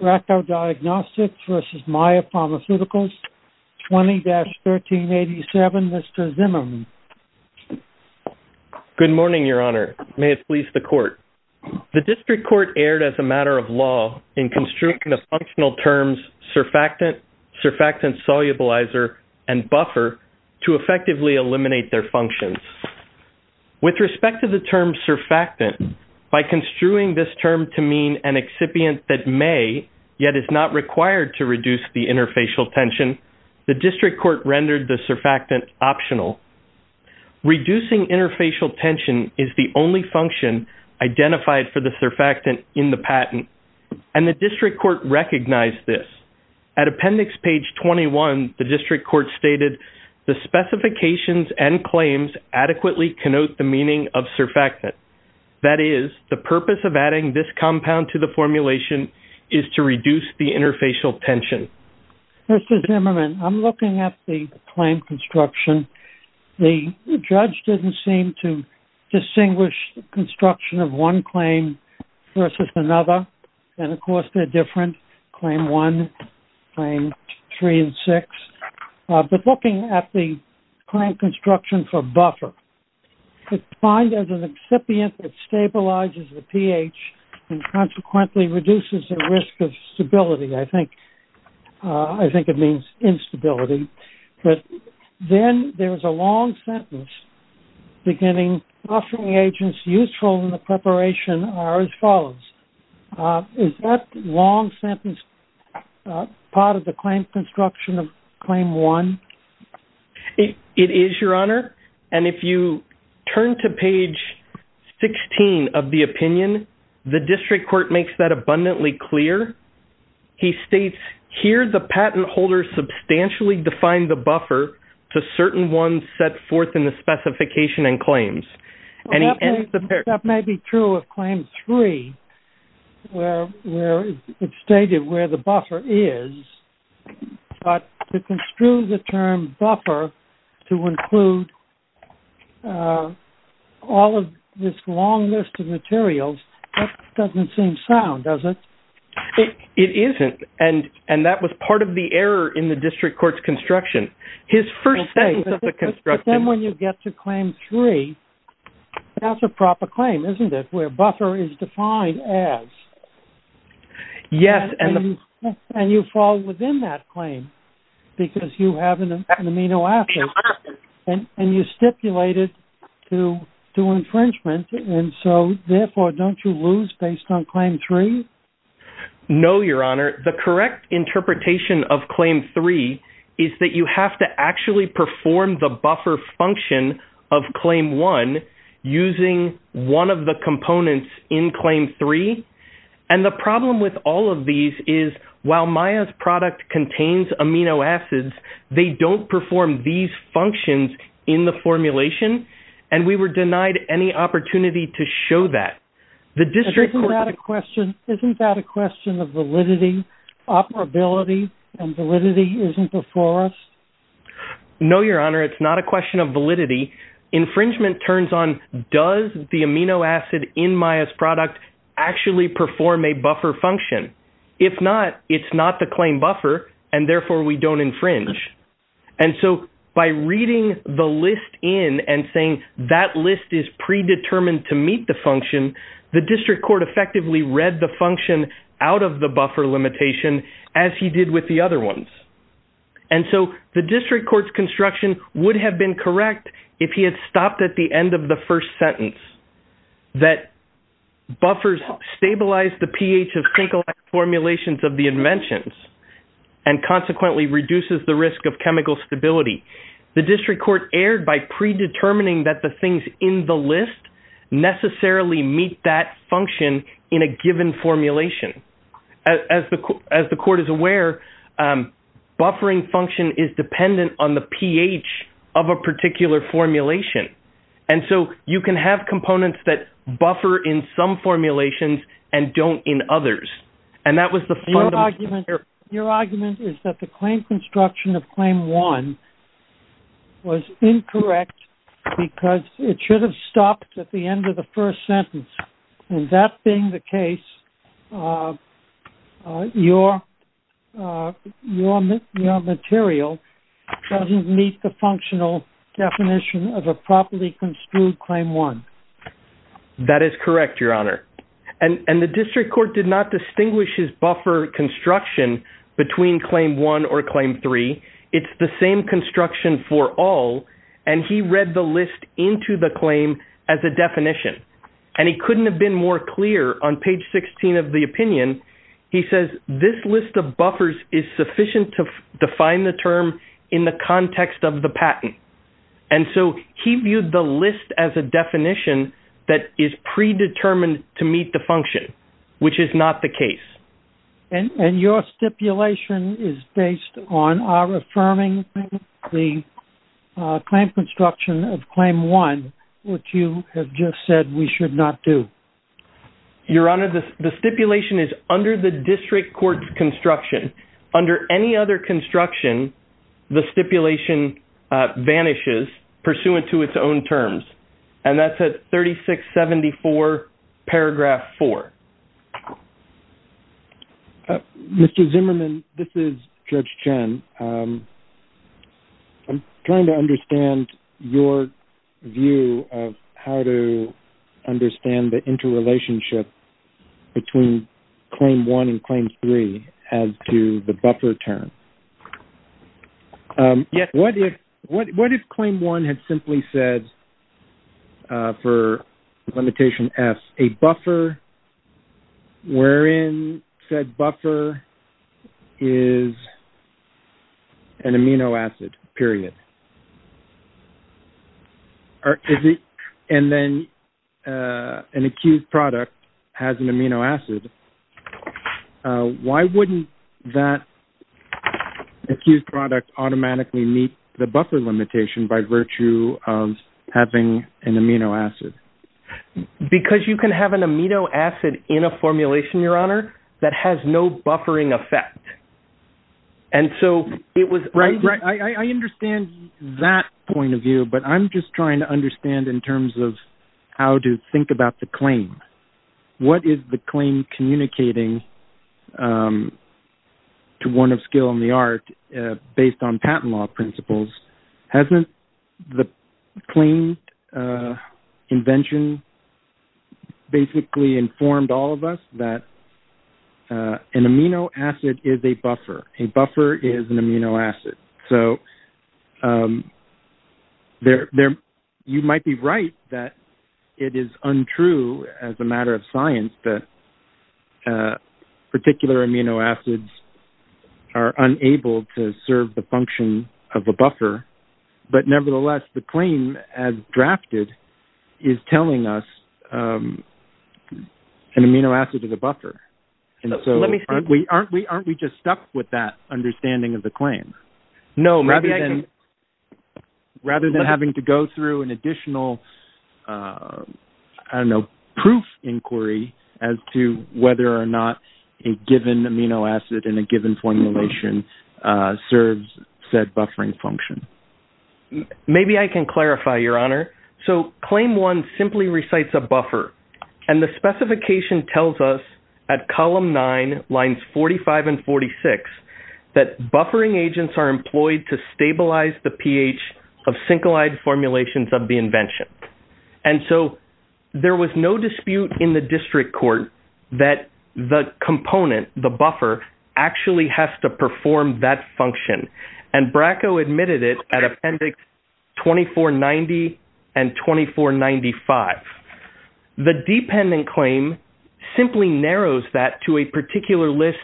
Racco Diagnostics v. Maia Pharmaceuticals, 20-1387, Mr. Zimmerman. Good morning, Your Honor. May it please the Court. The District Court erred as a matter of law in construing the functional terms surfactant, surfactant solubilizer, and buffer to effectively eliminate their functions. With respect to the term surfactant, by construing this term to mean an yet is not required to reduce the interfacial tension, the District Court rendered the surfactant optional. Reducing interfacial tension is the only function identified for the surfactant in the patent, and the District Court recognized this. At Appendix Page 21, the District Court stated, the specifications and claims adequately connote the meaning of surfactant. That is, the purpose of adding this compound to the formulation is to reduce the interfacial tension. Mr. Zimmerman, I'm looking at the claim construction. The judge didn't seem to distinguish the construction of one claim versus another, and, of course, they're different, Claim 1, Claim 3, and 6, but looking at the claim construction for buffer, it's defined as an excipient that stabilizes the pH and consequently reduces the risk of stability. I think it means instability, but then there's a long sentence beginning, buffering agents useful in the preparation are as follows. Is that long sentence part of the claim construction of Claim 1? It is, Your Honor, and if you turn to Page 16 of the opinion, the District Court makes that abundantly clear. He states, here, the patent holder substantially defined the buffer to certain ones set forth in the specification and claims, and he ends the paragraph. That may be true of Claim 3, where it's stated where the buffer is, but to term buffer to include all of this long list of materials, that doesn't seem sound. Does it? It isn't, and that was part of the error in the District Court's construction. His first sentence of the construction- But then when you get to Claim 3, that's a proper claim, isn't it, where buffer is defined as? Yes, and the- And you stipulate it to infringement, and so, therefore, don't you lose based on Claim 3? No, Your Honor. The correct interpretation of Claim 3 is that you have to actually perform the buffer function of Claim 1 using one of the components in Claim 3, and the problem with all of these is, while Maya's product contains amino acids, they don't perform these functions in the formulation, and we were denied any opportunity to show that. The District Court- Isn't that a question of validity, operability, and validity isn't before us? No, Your Honor, it's not a question of validity. Infringement turns on, does the amino acid in Maya's product actually perform a buffer function? If not, it's not the claim buffer, and therefore, we don't infringe, and so, by reading the list in and saying that list is predetermined to meet the function, the District Court effectively read the function out of the buffer limitation as he did with the other ones, and so, the District Court's construction would have been correct if he had stopped at the end of the first sentence, that buffers stabilize the pH of single-act formulations of the inventions, and consequently, reduces the risk of chemical stability. The District Court erred by predetermining that the things in the list necessarily meet that function in a given formulation. As the Court is aware, buffering function is dependent on the pH of a particular formulation, and so, you can have components that buffer in some formulations and don't in others, and that was the fundamental error. Your argument is that the claim construction of Claim 1 was incorrect because it should have stopped at the end of the first sentence, and that being the case, your material doesn't meet the functional definition of a properly construed Claim 1. That is correct, Your Honor, and the District Court did not distinguish his buffer construction between Claim 1 or Claim 3. It's the same construction for all, and he read the list into the claim as a definition, and he couldn't have been more clear on page 16 of the opinion. He says, this list of buffers is sufficient to define the term in the context of the patent, and so, he viewed the list as a definition that is predetermined to meet the function, which is not the case. And your stipulation is based on our affirming the claim construction of Claim 1, which you have just said we should not do. Your Honor, the stipulation is under the District Court's construction. Under any other construction, the stipulation vanishes pursuant to its own terms, and that's at 3674 paragraph 4. Mr. Zimmerman, this is Judge Chen. I'm trying to understand your view of how to understand the interrelationship between Claim 1 and Claim 3 as to the buffer term. What if Claim 1 had simply said, for Limitation S, a buffer wherein said buffer is an amino acid, period? And then, an accused product has an amino acid. Why wouldn't that accused product automatically meet the buffer limitation by virtue of having an amino acid? Because you can have an amino acid in a formulation, Your Honor, that has no buffering effect. And so, it was... Right, right. I understand that point of view, but I'm just trying to understand in terms of how to think about the claim. What is the claim communicating to one of skill and the art based on patent law principles? Hasn't the claim invention basically informed all of us that an amino acid is a buffer? A buffer is an amino acid. So, you might be right that it is untrue as a matter of science that particular amino acids are unable to serve the function of a buffer. But nevertheless, the claim as drafted is telling us an amino acid is a buffer. And so, aren't we just stuck with that understanding of the claim? No, rather than having to go through an additional, I don't know, proof inquiry as to whether or not a given amino acid in a given formulation serves said buffering function. Maybe I can clarify, Your Honor. So, Claim 1 simply recites a buffer. And the specification tells us at Column 9, Lines 45 and 46, that buffering agents are employed to stabilize the pH of syncolide formulations of the invention. And so, there was no dispute in the district court that the component, the buffer, actually has to perform that function. And Bracco admitted it at Appendix 2490 and 2495. The dependent claim simply narrows that to a particular list,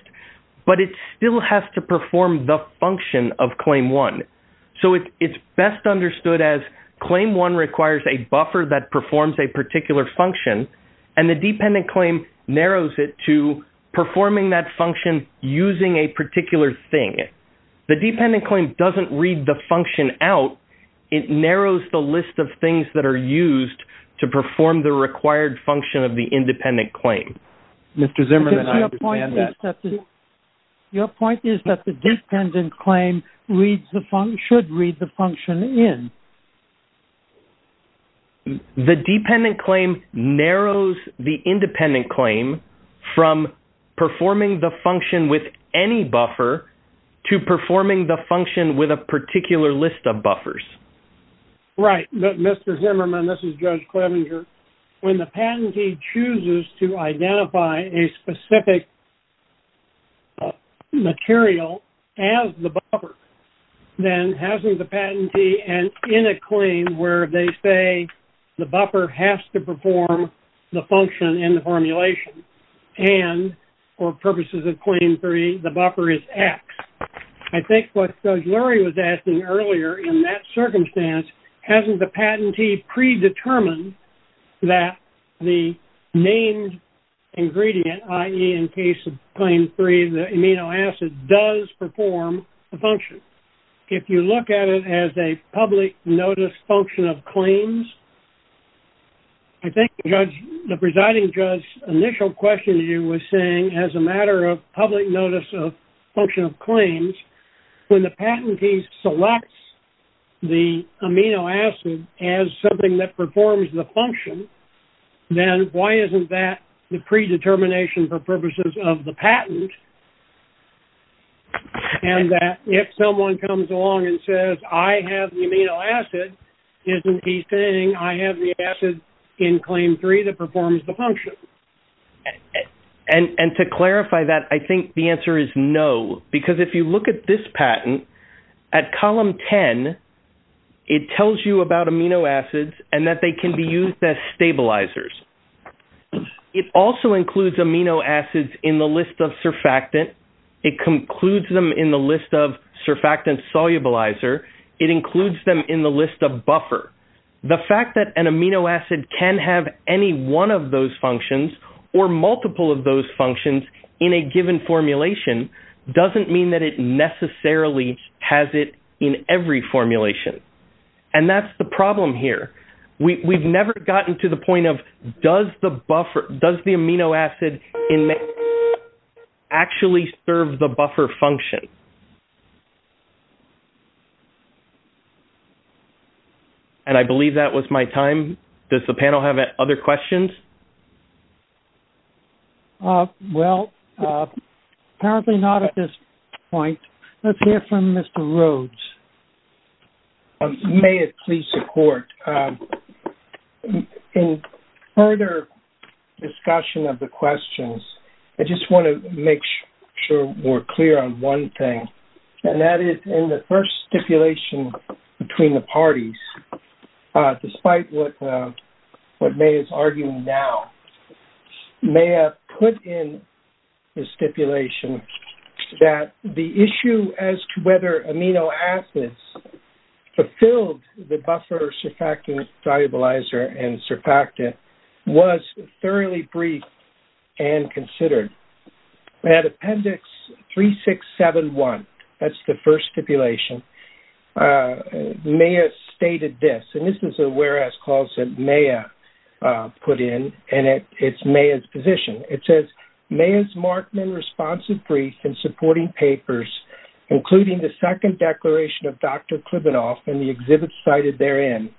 but it still has to perform the function of Claim 1. So, it's best understood as Claim 1 requires a buffer that performs a particular function, and the dependent claim narrows it to performing that function using a particular thing. The dependent claim doesn't read the function out. It narrows the list of things that are used to perform the required function of the independent claim. Mr. Zimmerman, I understand that. Your point is that the dependent claim should read the function in. The dependent claim narrows the independent claim from performing the function with any buffer to performing the function with a particular list of buffers. Right. Mr. Zimmerman, this is Judge Clevenger. When the patentee chooses to identify a specific material as the buffer, then hasn't the patentee, and in a claim where they say the buffer has to perform the function in the formulation, and for purposes of Claim 3, the buffer is X. I think what Judge Lurie was asking earlier, in that circumstance, hasn't the patentee predetermined that the named ingredient, i.e., in case of Claim 3, the amino acid, does perform the function? If you look at it as a public notice function of claims, I think the presiding judge's question to you was saying, as a matter of public notice of function of claims, when the patentee selects the amino acid as something that performs the function, then why isn't that the predetermination for purposes of the patent? And that if someone comes along and says, I have the amino acid, isn't he saying I have the acid in Claim 3 that performs the function? And to clarify that, I think the answer is no, because if you look at this patent, at Column 10, it tells you about amino acids and that they can be used as stabilizers. It also includes amino acids in the list of surfactant. It concludes them in the list of surfactant solubilizer. It includes them in the list of buffer. The fact that an amino acid can have any one of those functions or multiple of those functions in a given formulation doesn't mean that it necessarily has it in every formulation. And that's the problem here. We've never gotten to the point of, does the amino acid actually serve the buffer function? I believe that was my time. Does the panel have other questions? Well, apparently not at this point. Let's hear from Mr. Rhodes. May it please the Court. In further discussion of the questions, I just want to make sure we're clear on one thing, and that is in the first stipulation between the parties, despite what May is arguing now, May have put in the stipulation that the issue as to whether amino acids fulfilled the buffer surfactant solubilizer and surfactant was thoroughly briefed and considered. At Appendix 3671, that's the first stipulation, May has stated this. And this is a whereas clause that May put in. And it's May's position. It says, May's Markman responsive brief and supporting papers, including the second declaration of Dr. Klibanoff and the exhibits cited therein,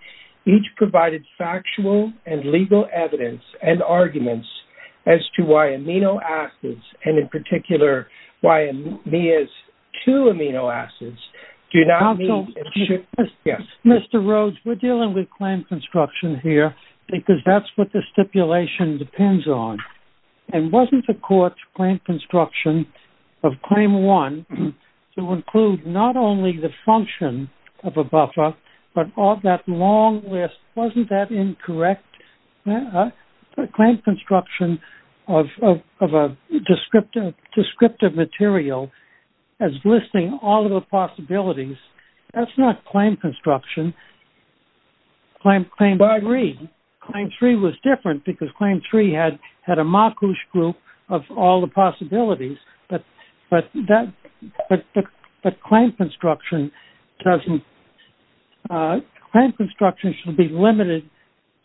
each provided factual and legal evidence and arguments as to why amino acids, and in particular, why May's two amino acids, do not meet in shipments. Yes. Mr. Rhodes, we're dealing with claim construction here because that's what the stipulation depends on. And wasn't the Court's claim construction of Claim 1 to include not only the function of a buffer, but all that long list, wasn't that incorrect? Claim construction of a descriptive material as listing all of the possibilities, that's not claim construction. But I agree. Claim 3 was different because Claim 3 had a macus group of all the possibilities, but claim construction shouldn't be limited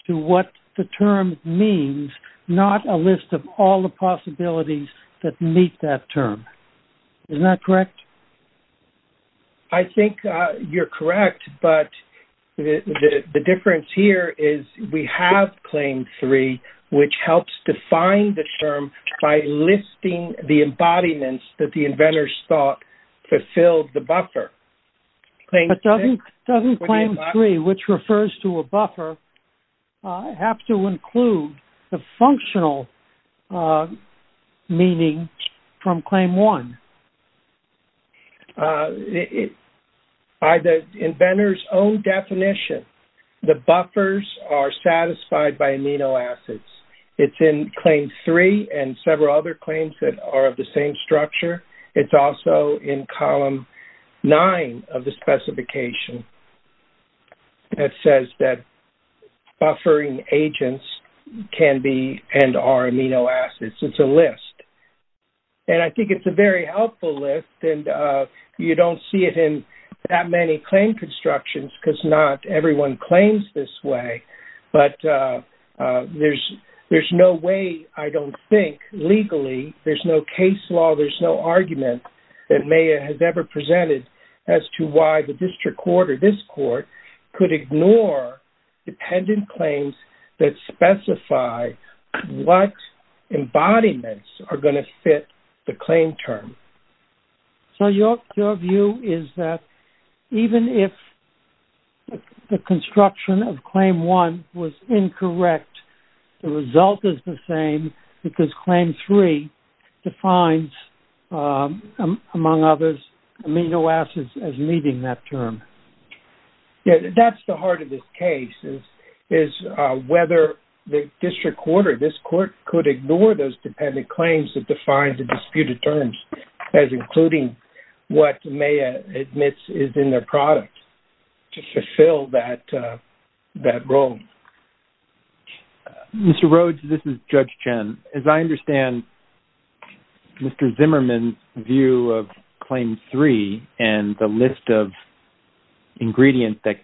to what the term means, not a list of all the possibilities that meet that term. Isn't that correct? I think you're correct. But the difference here is we have Claim 3, which helps define the term by listing the fulfilled the buffer. Doesn't Claim 3, which refers to a buffer, have to include the functional meaning from Claim 1? By the inventor's own definition, the buffers are satisfied by amino acids. It's in Claim 3 and several other claims that are of the same structure. It's also in Column 9 of the specification that says that buffering agents can be and are amino acids. It's a list. And I think it's a very helpful list. And you don't see it in that many claim constructions because not everyone claims this way. But there's no way, I don't think, legally, there's no case law. There's no argument that MAYA has ever presented as to why the district court or this court could ignore dependent claims that specify what embodiments are going to fit the claim term. So your view is that even if the construction of Claim 1 was incorrect, the result is the Claim 3 defines, among others, amino acids as meeting that term. That's the heart of this case, is whether the district court or this court could ignore those dependent claims that define the disputed terms as including what MAYA admits is in their product to fulfill that role. Mr. Rhodes, this is Judge Chen. As I understand Mr. Zimmerman's view of Claim 3 and the list of ingredients that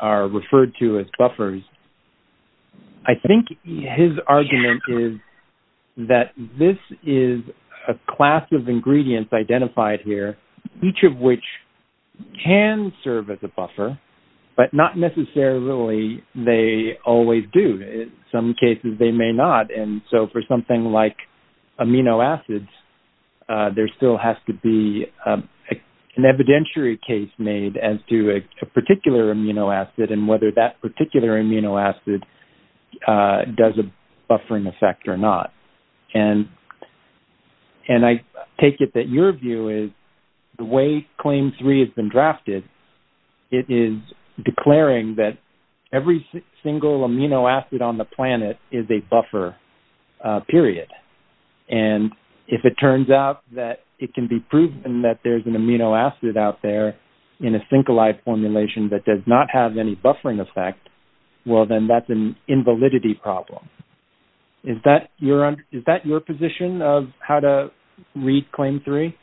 are referred to as buffers, I think his argument is that this is a class of ingredients identified here, each of which can serve as a buffer, but not necessarily they always do. Some cases they may not. And so for something like amino acids, there still has to be an evidentiary case made as to a particular amino acid and whether that particular amino acid does a buffering effect or not. And I take it that your view is the way Claim 3 has been drafted, it is declaring that every single amino acid on the planet is a buffer, period. And if it turns out that it can be proven that there's an amino acid out there in a syncoli formulation that does not have any buffering effect, well, then that's an invalidity problem. Is that your position of how to read Claim 3?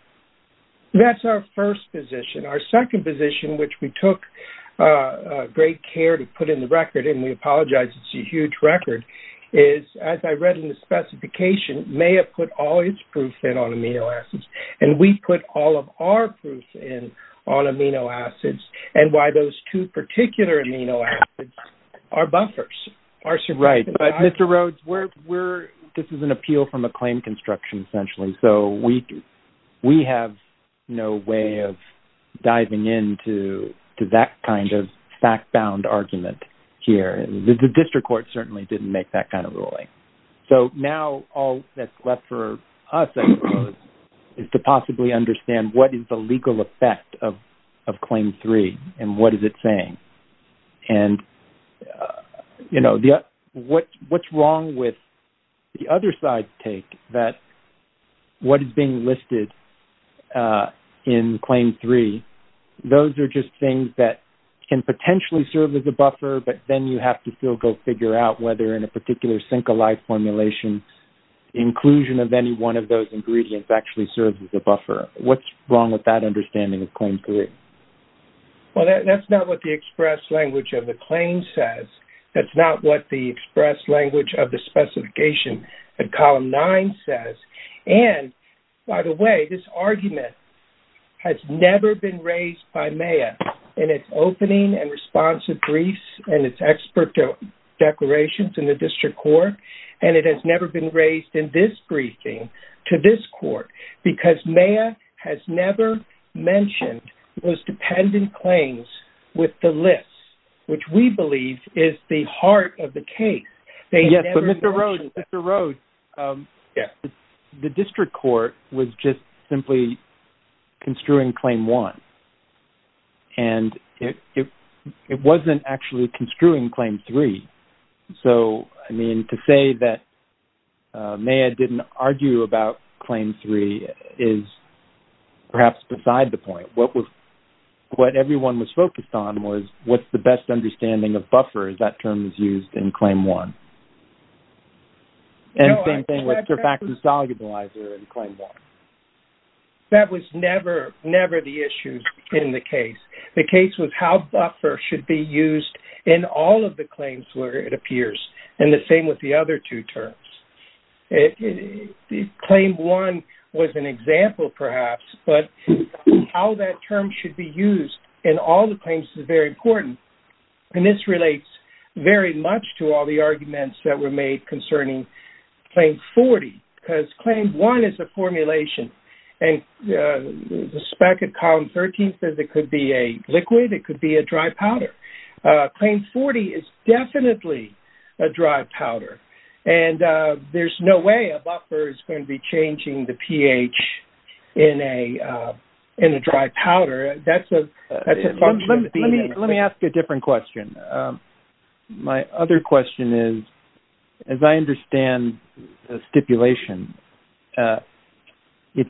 That's our first position. Our second position, which we took great care to put in the record-and we apologize, it's a huge record-is, as I read in the specification, may have put all its proof in on amino acids. And we put all of our proof in on amino acids and why those two particular amino acids are buffers. Right. But, Mr. Rhodes, this is an appeal from a claim construction, essentially. So we have no way of diving into that kind of fact-bound argument here. The district court certainly didn't make that kind of ruling. So now all that's left for us, I suppose, is to possibly understand what is the legal effect of Claim 3 and what is it saying. And, you know, what's wrong with the other side's take that what is being listed in Claim 3, those are just things that can potentially serve as a buffer, but then you have to still go figure out whether in a particular syncoli formulation, inclusion of any one of those ingredients actually serves as a buffer. What's wrong with that understanding of Claim 3? Well, that's not what the express language of the claim says. That's not what the express language of the specification of Column 9 says. And, by the way, this argument has never been raised by MAYA in its opening and responsive briefs and its expert declarations in the district court. And it has never been raised in this briefing to this court because MAYA has never mentioned those dependent claims with the list, which we believe is the heart of the case. Yes, but Mr. Rhodes, the district court was just simply construing Claim 1. And it wasn't actually construing Claim 3. So, I mean, to say that MAYA didn't argue about Claim 3 is perhaps beside the point. What everyone was focused on was what's the best understanding of buffer as that term is used in Claim 1? And the same thing with surfactant solubilizer in Claim 1. That was never the issue in the case. The case was how buffer should be used in all of the claims where it appears, and the same with the other two terms. And Claim 1 was an example, perhaps, but how that term should be used in all the claims is very important. And this relates very much to all the arguments that were made concerning Claim 40 because Claim 1 is a formulation. And the spec at column 13 says it could be a liquid. It could be a dry powder. Claim 40 is definitely a dry powder. And there's no way a buffer is going to be changing the pH in a dry powder. Let me ask a different question. My other question is, as I understand the stipulation, the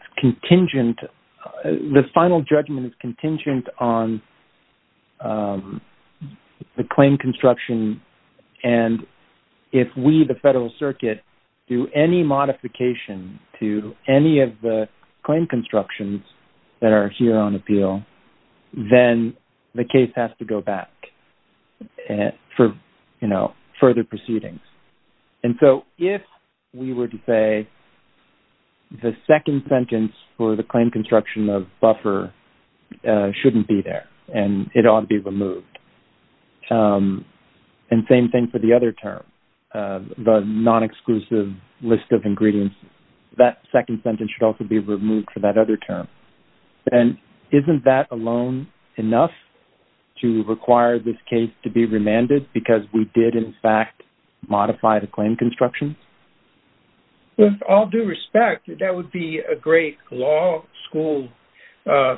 final judgment is contingent on the claim construction. And if we, the Federal Circuit, do any modification to any of the claim constructions that are here on appeal, then the case has to go back for further proceedings. And so if we were to say the second sentence for the claim construction of buffer shouldn't be there, and it ought to be removed. And same thing for the other term, the non-exclusive list of ingredients, that second sentence should also be removed for that other term. And isn't that alone enough to require this case to be remanded because we did, in fact, modify the claim construction? With all due respect, that would be a great law school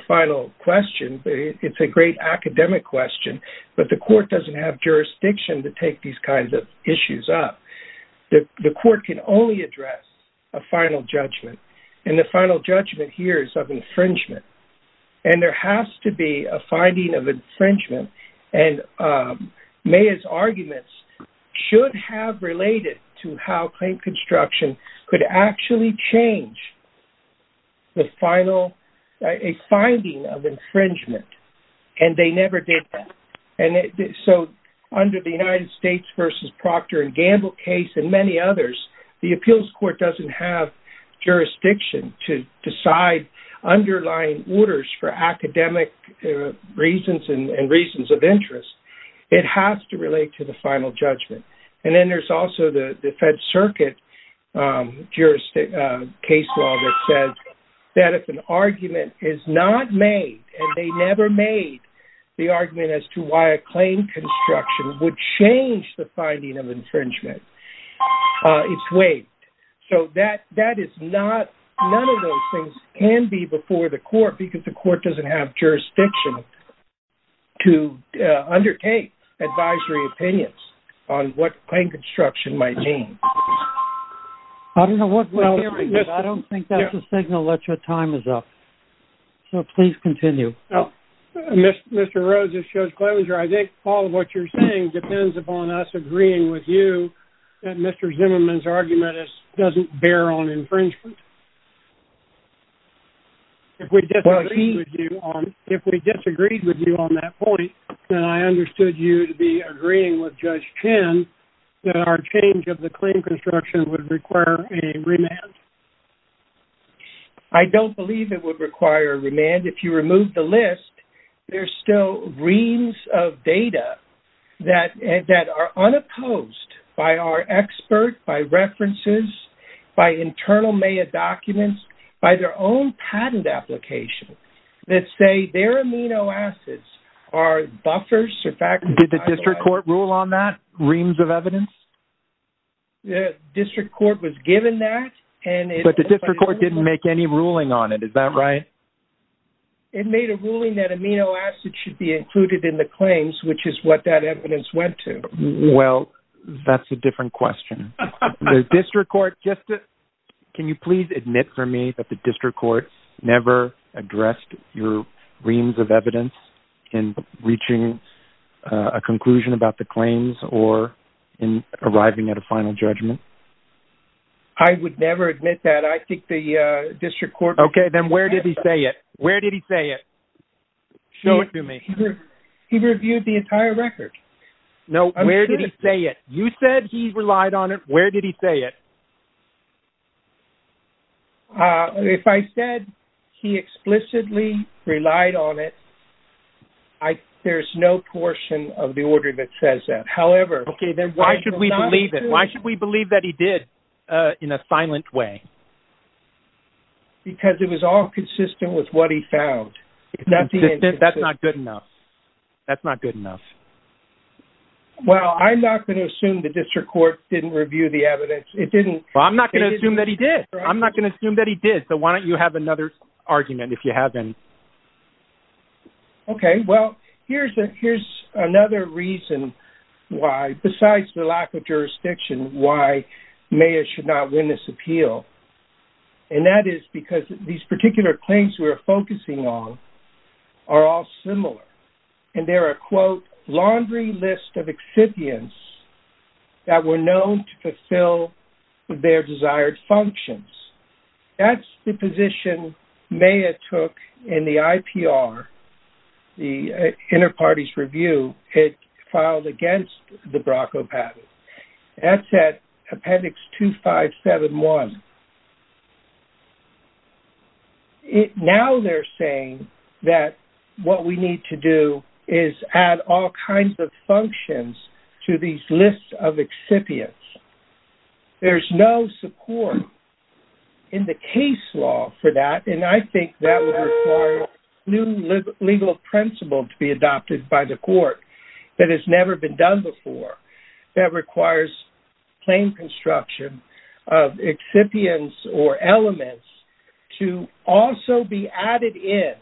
final question. It's a great academic question. But the court doesn't have jurisdiction to take these kinds of issues up. The court can only address a final judgment. And the final judgment here is of infringement. And there has to be a finding of infringement. And Maya's arguments should have related to how claim construction could actually change the final, a finding of infringement. And they never did that. And so under the United States versus Proctor and Gamble case and many others, the appeals court doesn't have jurisdiction to decide underlying orders for academic reasons and reasons of interest. It has to relate to the final judgment. And then there's also the Fed Circuit case law that says that if an argument is not made and they never made the argument as to why a claim construction would change the finding of infringement, it's waived. So that is not, none of those things can be before the court because the court doesn't have jurisdiction to undertake advisory opinions on what claim construction might mean. I don't know what, I don't think that's a signal that your time is up. So please continue. Mr. Rose, this shows closure. I think all of what you're saying depends upon us agreeing with you that Mr. Zimmerman's argument doesn't bear on infringement. If we disagreed with you on that point, then I understood you to be agreeing with Judge Chin that our change of the claim construction would require a remand. I don't believe it would require a remand. If you remove the list, there's still reams of data that are unopposed by our expert, by references, by internal MAEA documents, by their own patent application that say their amino acids are buffers or factors. Did the district court rule on that, reams of evidence? The district court was given that and it- But the district court didn't make any ruling on it. Is that right? It made a ruling that amino acid should be included in the claims, which is what that evidence went to. Well, that's a different question. The district court just, can you please admit for me that the district court never addressed your reams of evidence in reaching a conclusion about the claims or in arriving at a final judgment? I would never admit that. I think the district court- Okay, then where did he say it? Where did he say it? Show it to me. He reviewed the entire record. No, where did he say it? You said he relied on it. Where did he say it? If I said he explicitly relied on it, there's no portion of the order that says that. However- Okay, then why should we believe it? Why should we believe that he did in a silent way? Because it was all consistent with what he found. It's not the- That's not good enough. That's not good enough. Well, I'm not going to assume the district court didn't review the evidence. It didn't review the evidence. Well, I'm not going to assume that he did. I'm not going to assume that he did. So why don't you have another argument if you have any? Okay, well, here's another reason why, besides the lack of jurisdiction, why mayors should not win this appeal. And that is because these particular claims we're focusing on are all similar. And they're a, quote, laundry list of exhibients that were known to fulfill their desired functions. That's the position Maya took in the IPR, the Interparties Review. It filed against the Brocco patent. That's at appendix 2571. Now they're saying that what we need to do is add all kinds of functions to these lists of exhibients. There's no support in the case law for that. And I think that would require a new legal principle to be adopted by the court that has never been done before. That requires plain construction of exhibits. Or elements to also be added in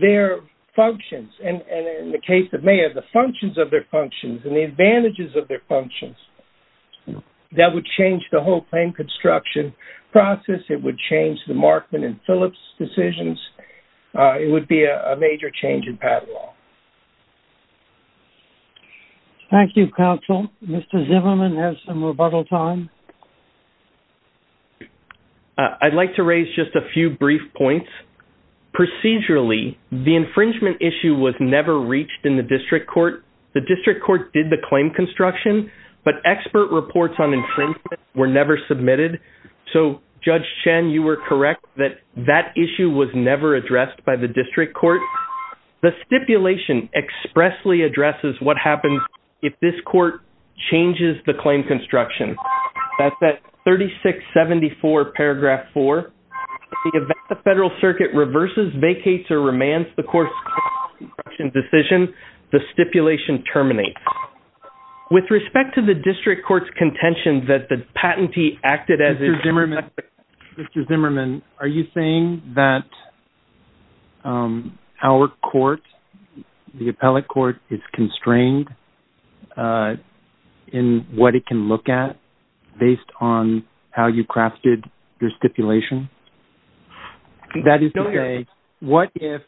their functions. And in the case of Maya, the functions of their functions and the advantages of their functions. That would change the whole plain construction process. It would change the Markman and Phillips decisions. It would be a major change in patent law. Thank you, counsel. Mr. Zimmerman has some rebuttal time. I'd like to raise just a few brief points. Procedurally, the infringement issue was never reached in the district court. The district court did the claim construction. But expert reports on infringement were never submitted. So Judge Chen, you were correct that that issue was never addressed by the district court. The stipulation expressly addresses what happens if this court changes the claim construction. That's at 3674 paragraph 4. The event the federal circuit reverses, vacates, or remands the course of the construction decision, the stipulation terminates. With respect to the district court's contention that the patentee acted as- Mr. Zimmerman, are you saying that our court, the appellate court, is constrained in what it can look at? Based on how you crafted your stipulation? That is to say, what if,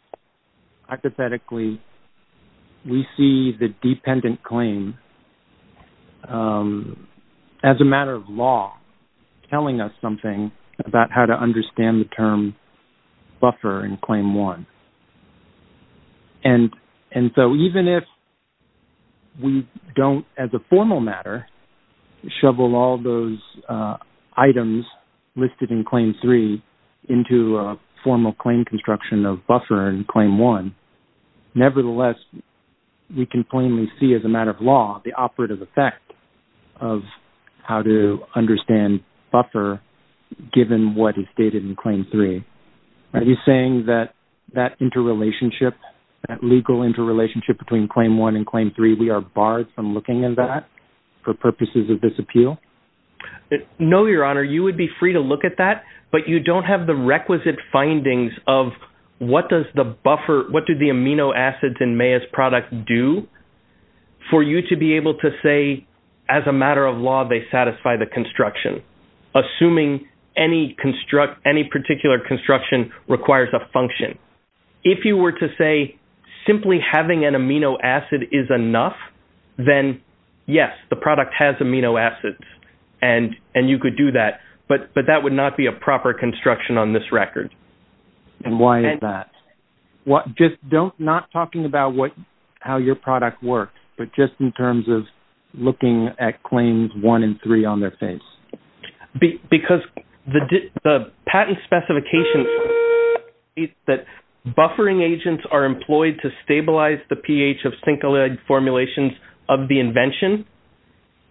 hypothetically, we see the dependent claim as a matter of law telling us something about how to understand the term buffer in claim one? And so even if we don't, as a formal matter, shovel all those items listed in claim three into a formal claim construction of buffer in claim one, nevertheless, we can plainly see as a matter of law the operative effect of how to understand buffer given what is stated in claim three. Are you saying that that interrelationship, that legal interrelationship between claim one and claim three, we are barred from looking at that for purposes of this appeal? No, your honor. You would be free to look at that. But you don't have the requisite findings of what does the buffer, what do the amino acids in Maya's product do for you to be able to say, as a matter of law, they satisfy the construction. Assuming any particular construction requires a function. If you were to say simply having an amino acid is enough, then, yes, the product has amino acids and you could do that. But that would not be a proper construction on this record. And why is that? Just don't, not talking about how your product works, but just in terms of looking at claims one and three on their face. Because the patent specifications that buffering agents are employed to stabilize the pH of syncolytic formulations of the invention.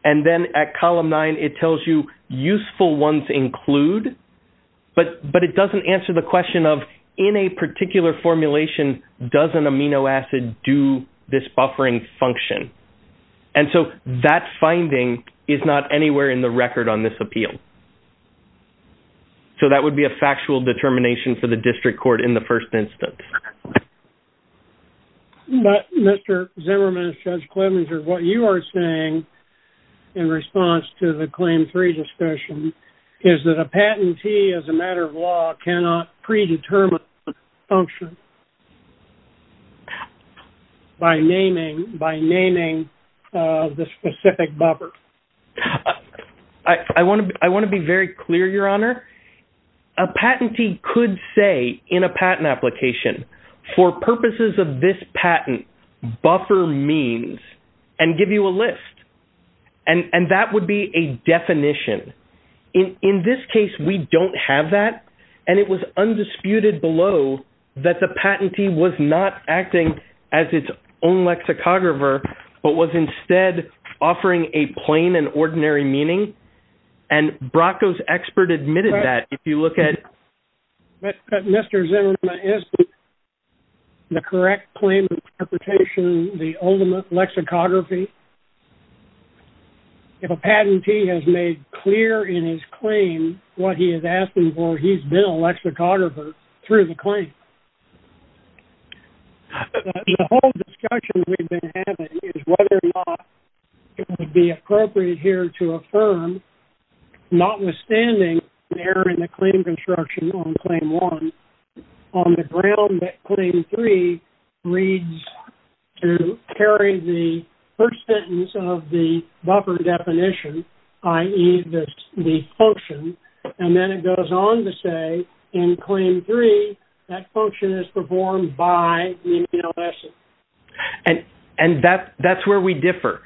And then at column nine, it tells you useful ones include. But it doesn't answer the question of, in a particular formulation, does an amino acid do this buffering function? And so that finding is not anywhere in the record on this appeal. So that would be a factual determination for the district court in the first instance. But Mr. Zimmerman, Judge Klemenser, what you are saying in response to the claim three discussion is that a patentee, as a matter of law, cannot predetermine function by naming, by naming the specific buffer. I want to, I want to be very clear, Your Honor. A patentee could say in a patent application, for purposes of this patent, buffer means and give you a list. And that would be a definition. In this case, we don't have that. And it was undisputed below that the patentee was not acting as its own lexicographer, but was instead offering a plain and ordinary meaning. And Bracco's expert admitted that if you look at... Mr. Zimmerman, is the correct claim interpretation the ultimate lexicography? If a patentee has made clear in his claim what he has asked him for, he's been a lexicographer through the claim. The whole discussion we've been having is whether or not it would be appropriate here to affirm, notwithstanding the error in the claim construction on claim one, on the ground that claim three reads to carry the first sentence of the buffer definition, i.e. the function, and then it goes on to say in claim three, that function is performed by the male essence. And that's where we differ.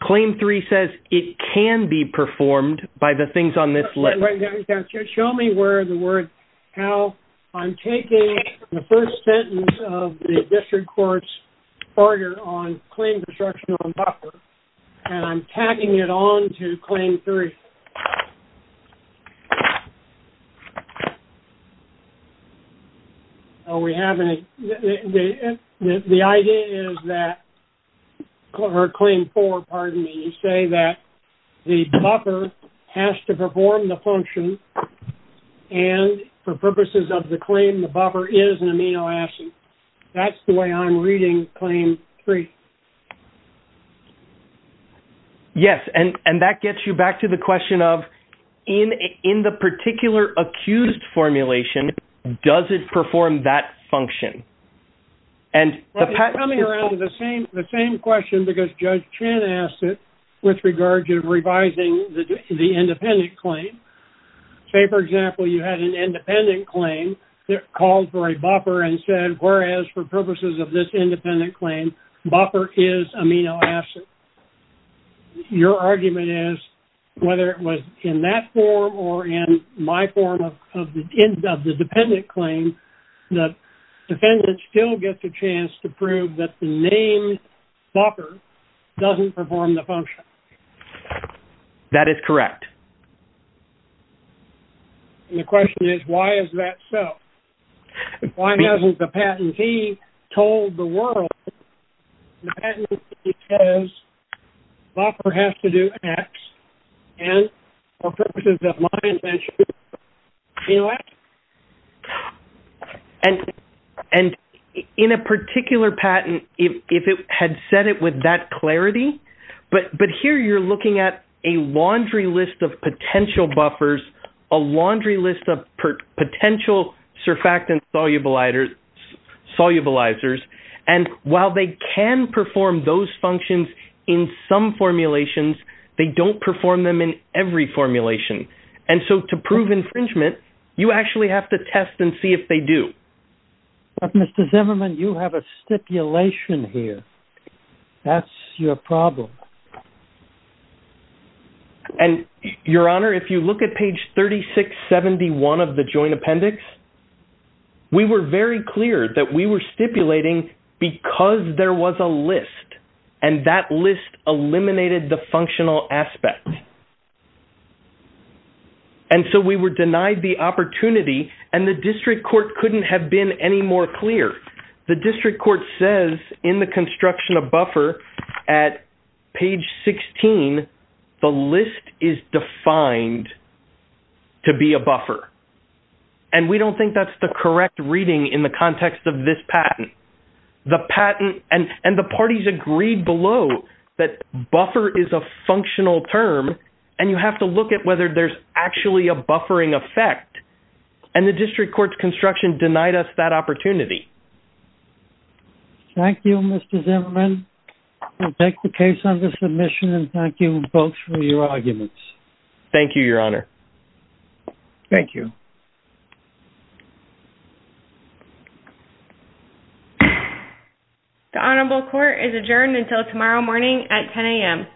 Claim three says it can be performed by the things on this list. Show me where the word... How I'm taking the first sentence of the district court's order on claim construction on buffer, and I'm tagging it on to claim three. So we have a... The idea is that... Or claim four, pardon me, say that the buffer has to perform the function, and for purposes of the claim, the buffer is an amino acid. That's the way I'm reading claim three. Yes, and that gets you back to the question of, in the particular accused formulation, does it perform that function? And the pat... Coming around to the same question, because Judge Chen asked it, with regard to revising the independent claim. Say, for example, you had an independent claim that called for a buffer and said, whereas for purposes of this independent claim, buffer is amino acid. Your argument is, whether it was in that form or in my form of the dependent claim, the defendant still gets a chance to prove that the name buffer doesn't perform the function. That is correct. And the question is, why is that so? Why hasn't the patentee told the world the patentee says buffer has to do X, and for purposes of my intention, amino acid. And in a particular patent, if it had said it with that clarity, but here you're looking at a laundry list of potential buffers, a laundry list of potential surfactant solubilizers. And while they can perform those functions in some formulations, they don't perform them in every formulation. And so to prove infringement, you actually have to test and see if they do. But Mr. Zimmerman, you have a stipulation here. That's your problem. And Your Honor, if you look at page 3671 of the Joint Appendix, we were very clear that we were stipulating because there was a list, and that list eliminated the functional aspect. And so we were denied the opportunity. And the district court couldn't have been any more clear. The district court says in the construction of buffer at page 16, the list is defined to be a buffer. And we don't think that's the correct reading in the context of this patent. The patent and the parties agreed below that buffer is a functional term. And you have to look at whether there's actually a buffering effect. And the district court's construction denied us that opportunity. Thank you, Mr. Zimmerman. We'll take the case under submission. And thank you both for your arguments. Thank you, Your Honor. Thank you. The Honorable Court is adjourned until tomorrow morning at 10 a.m.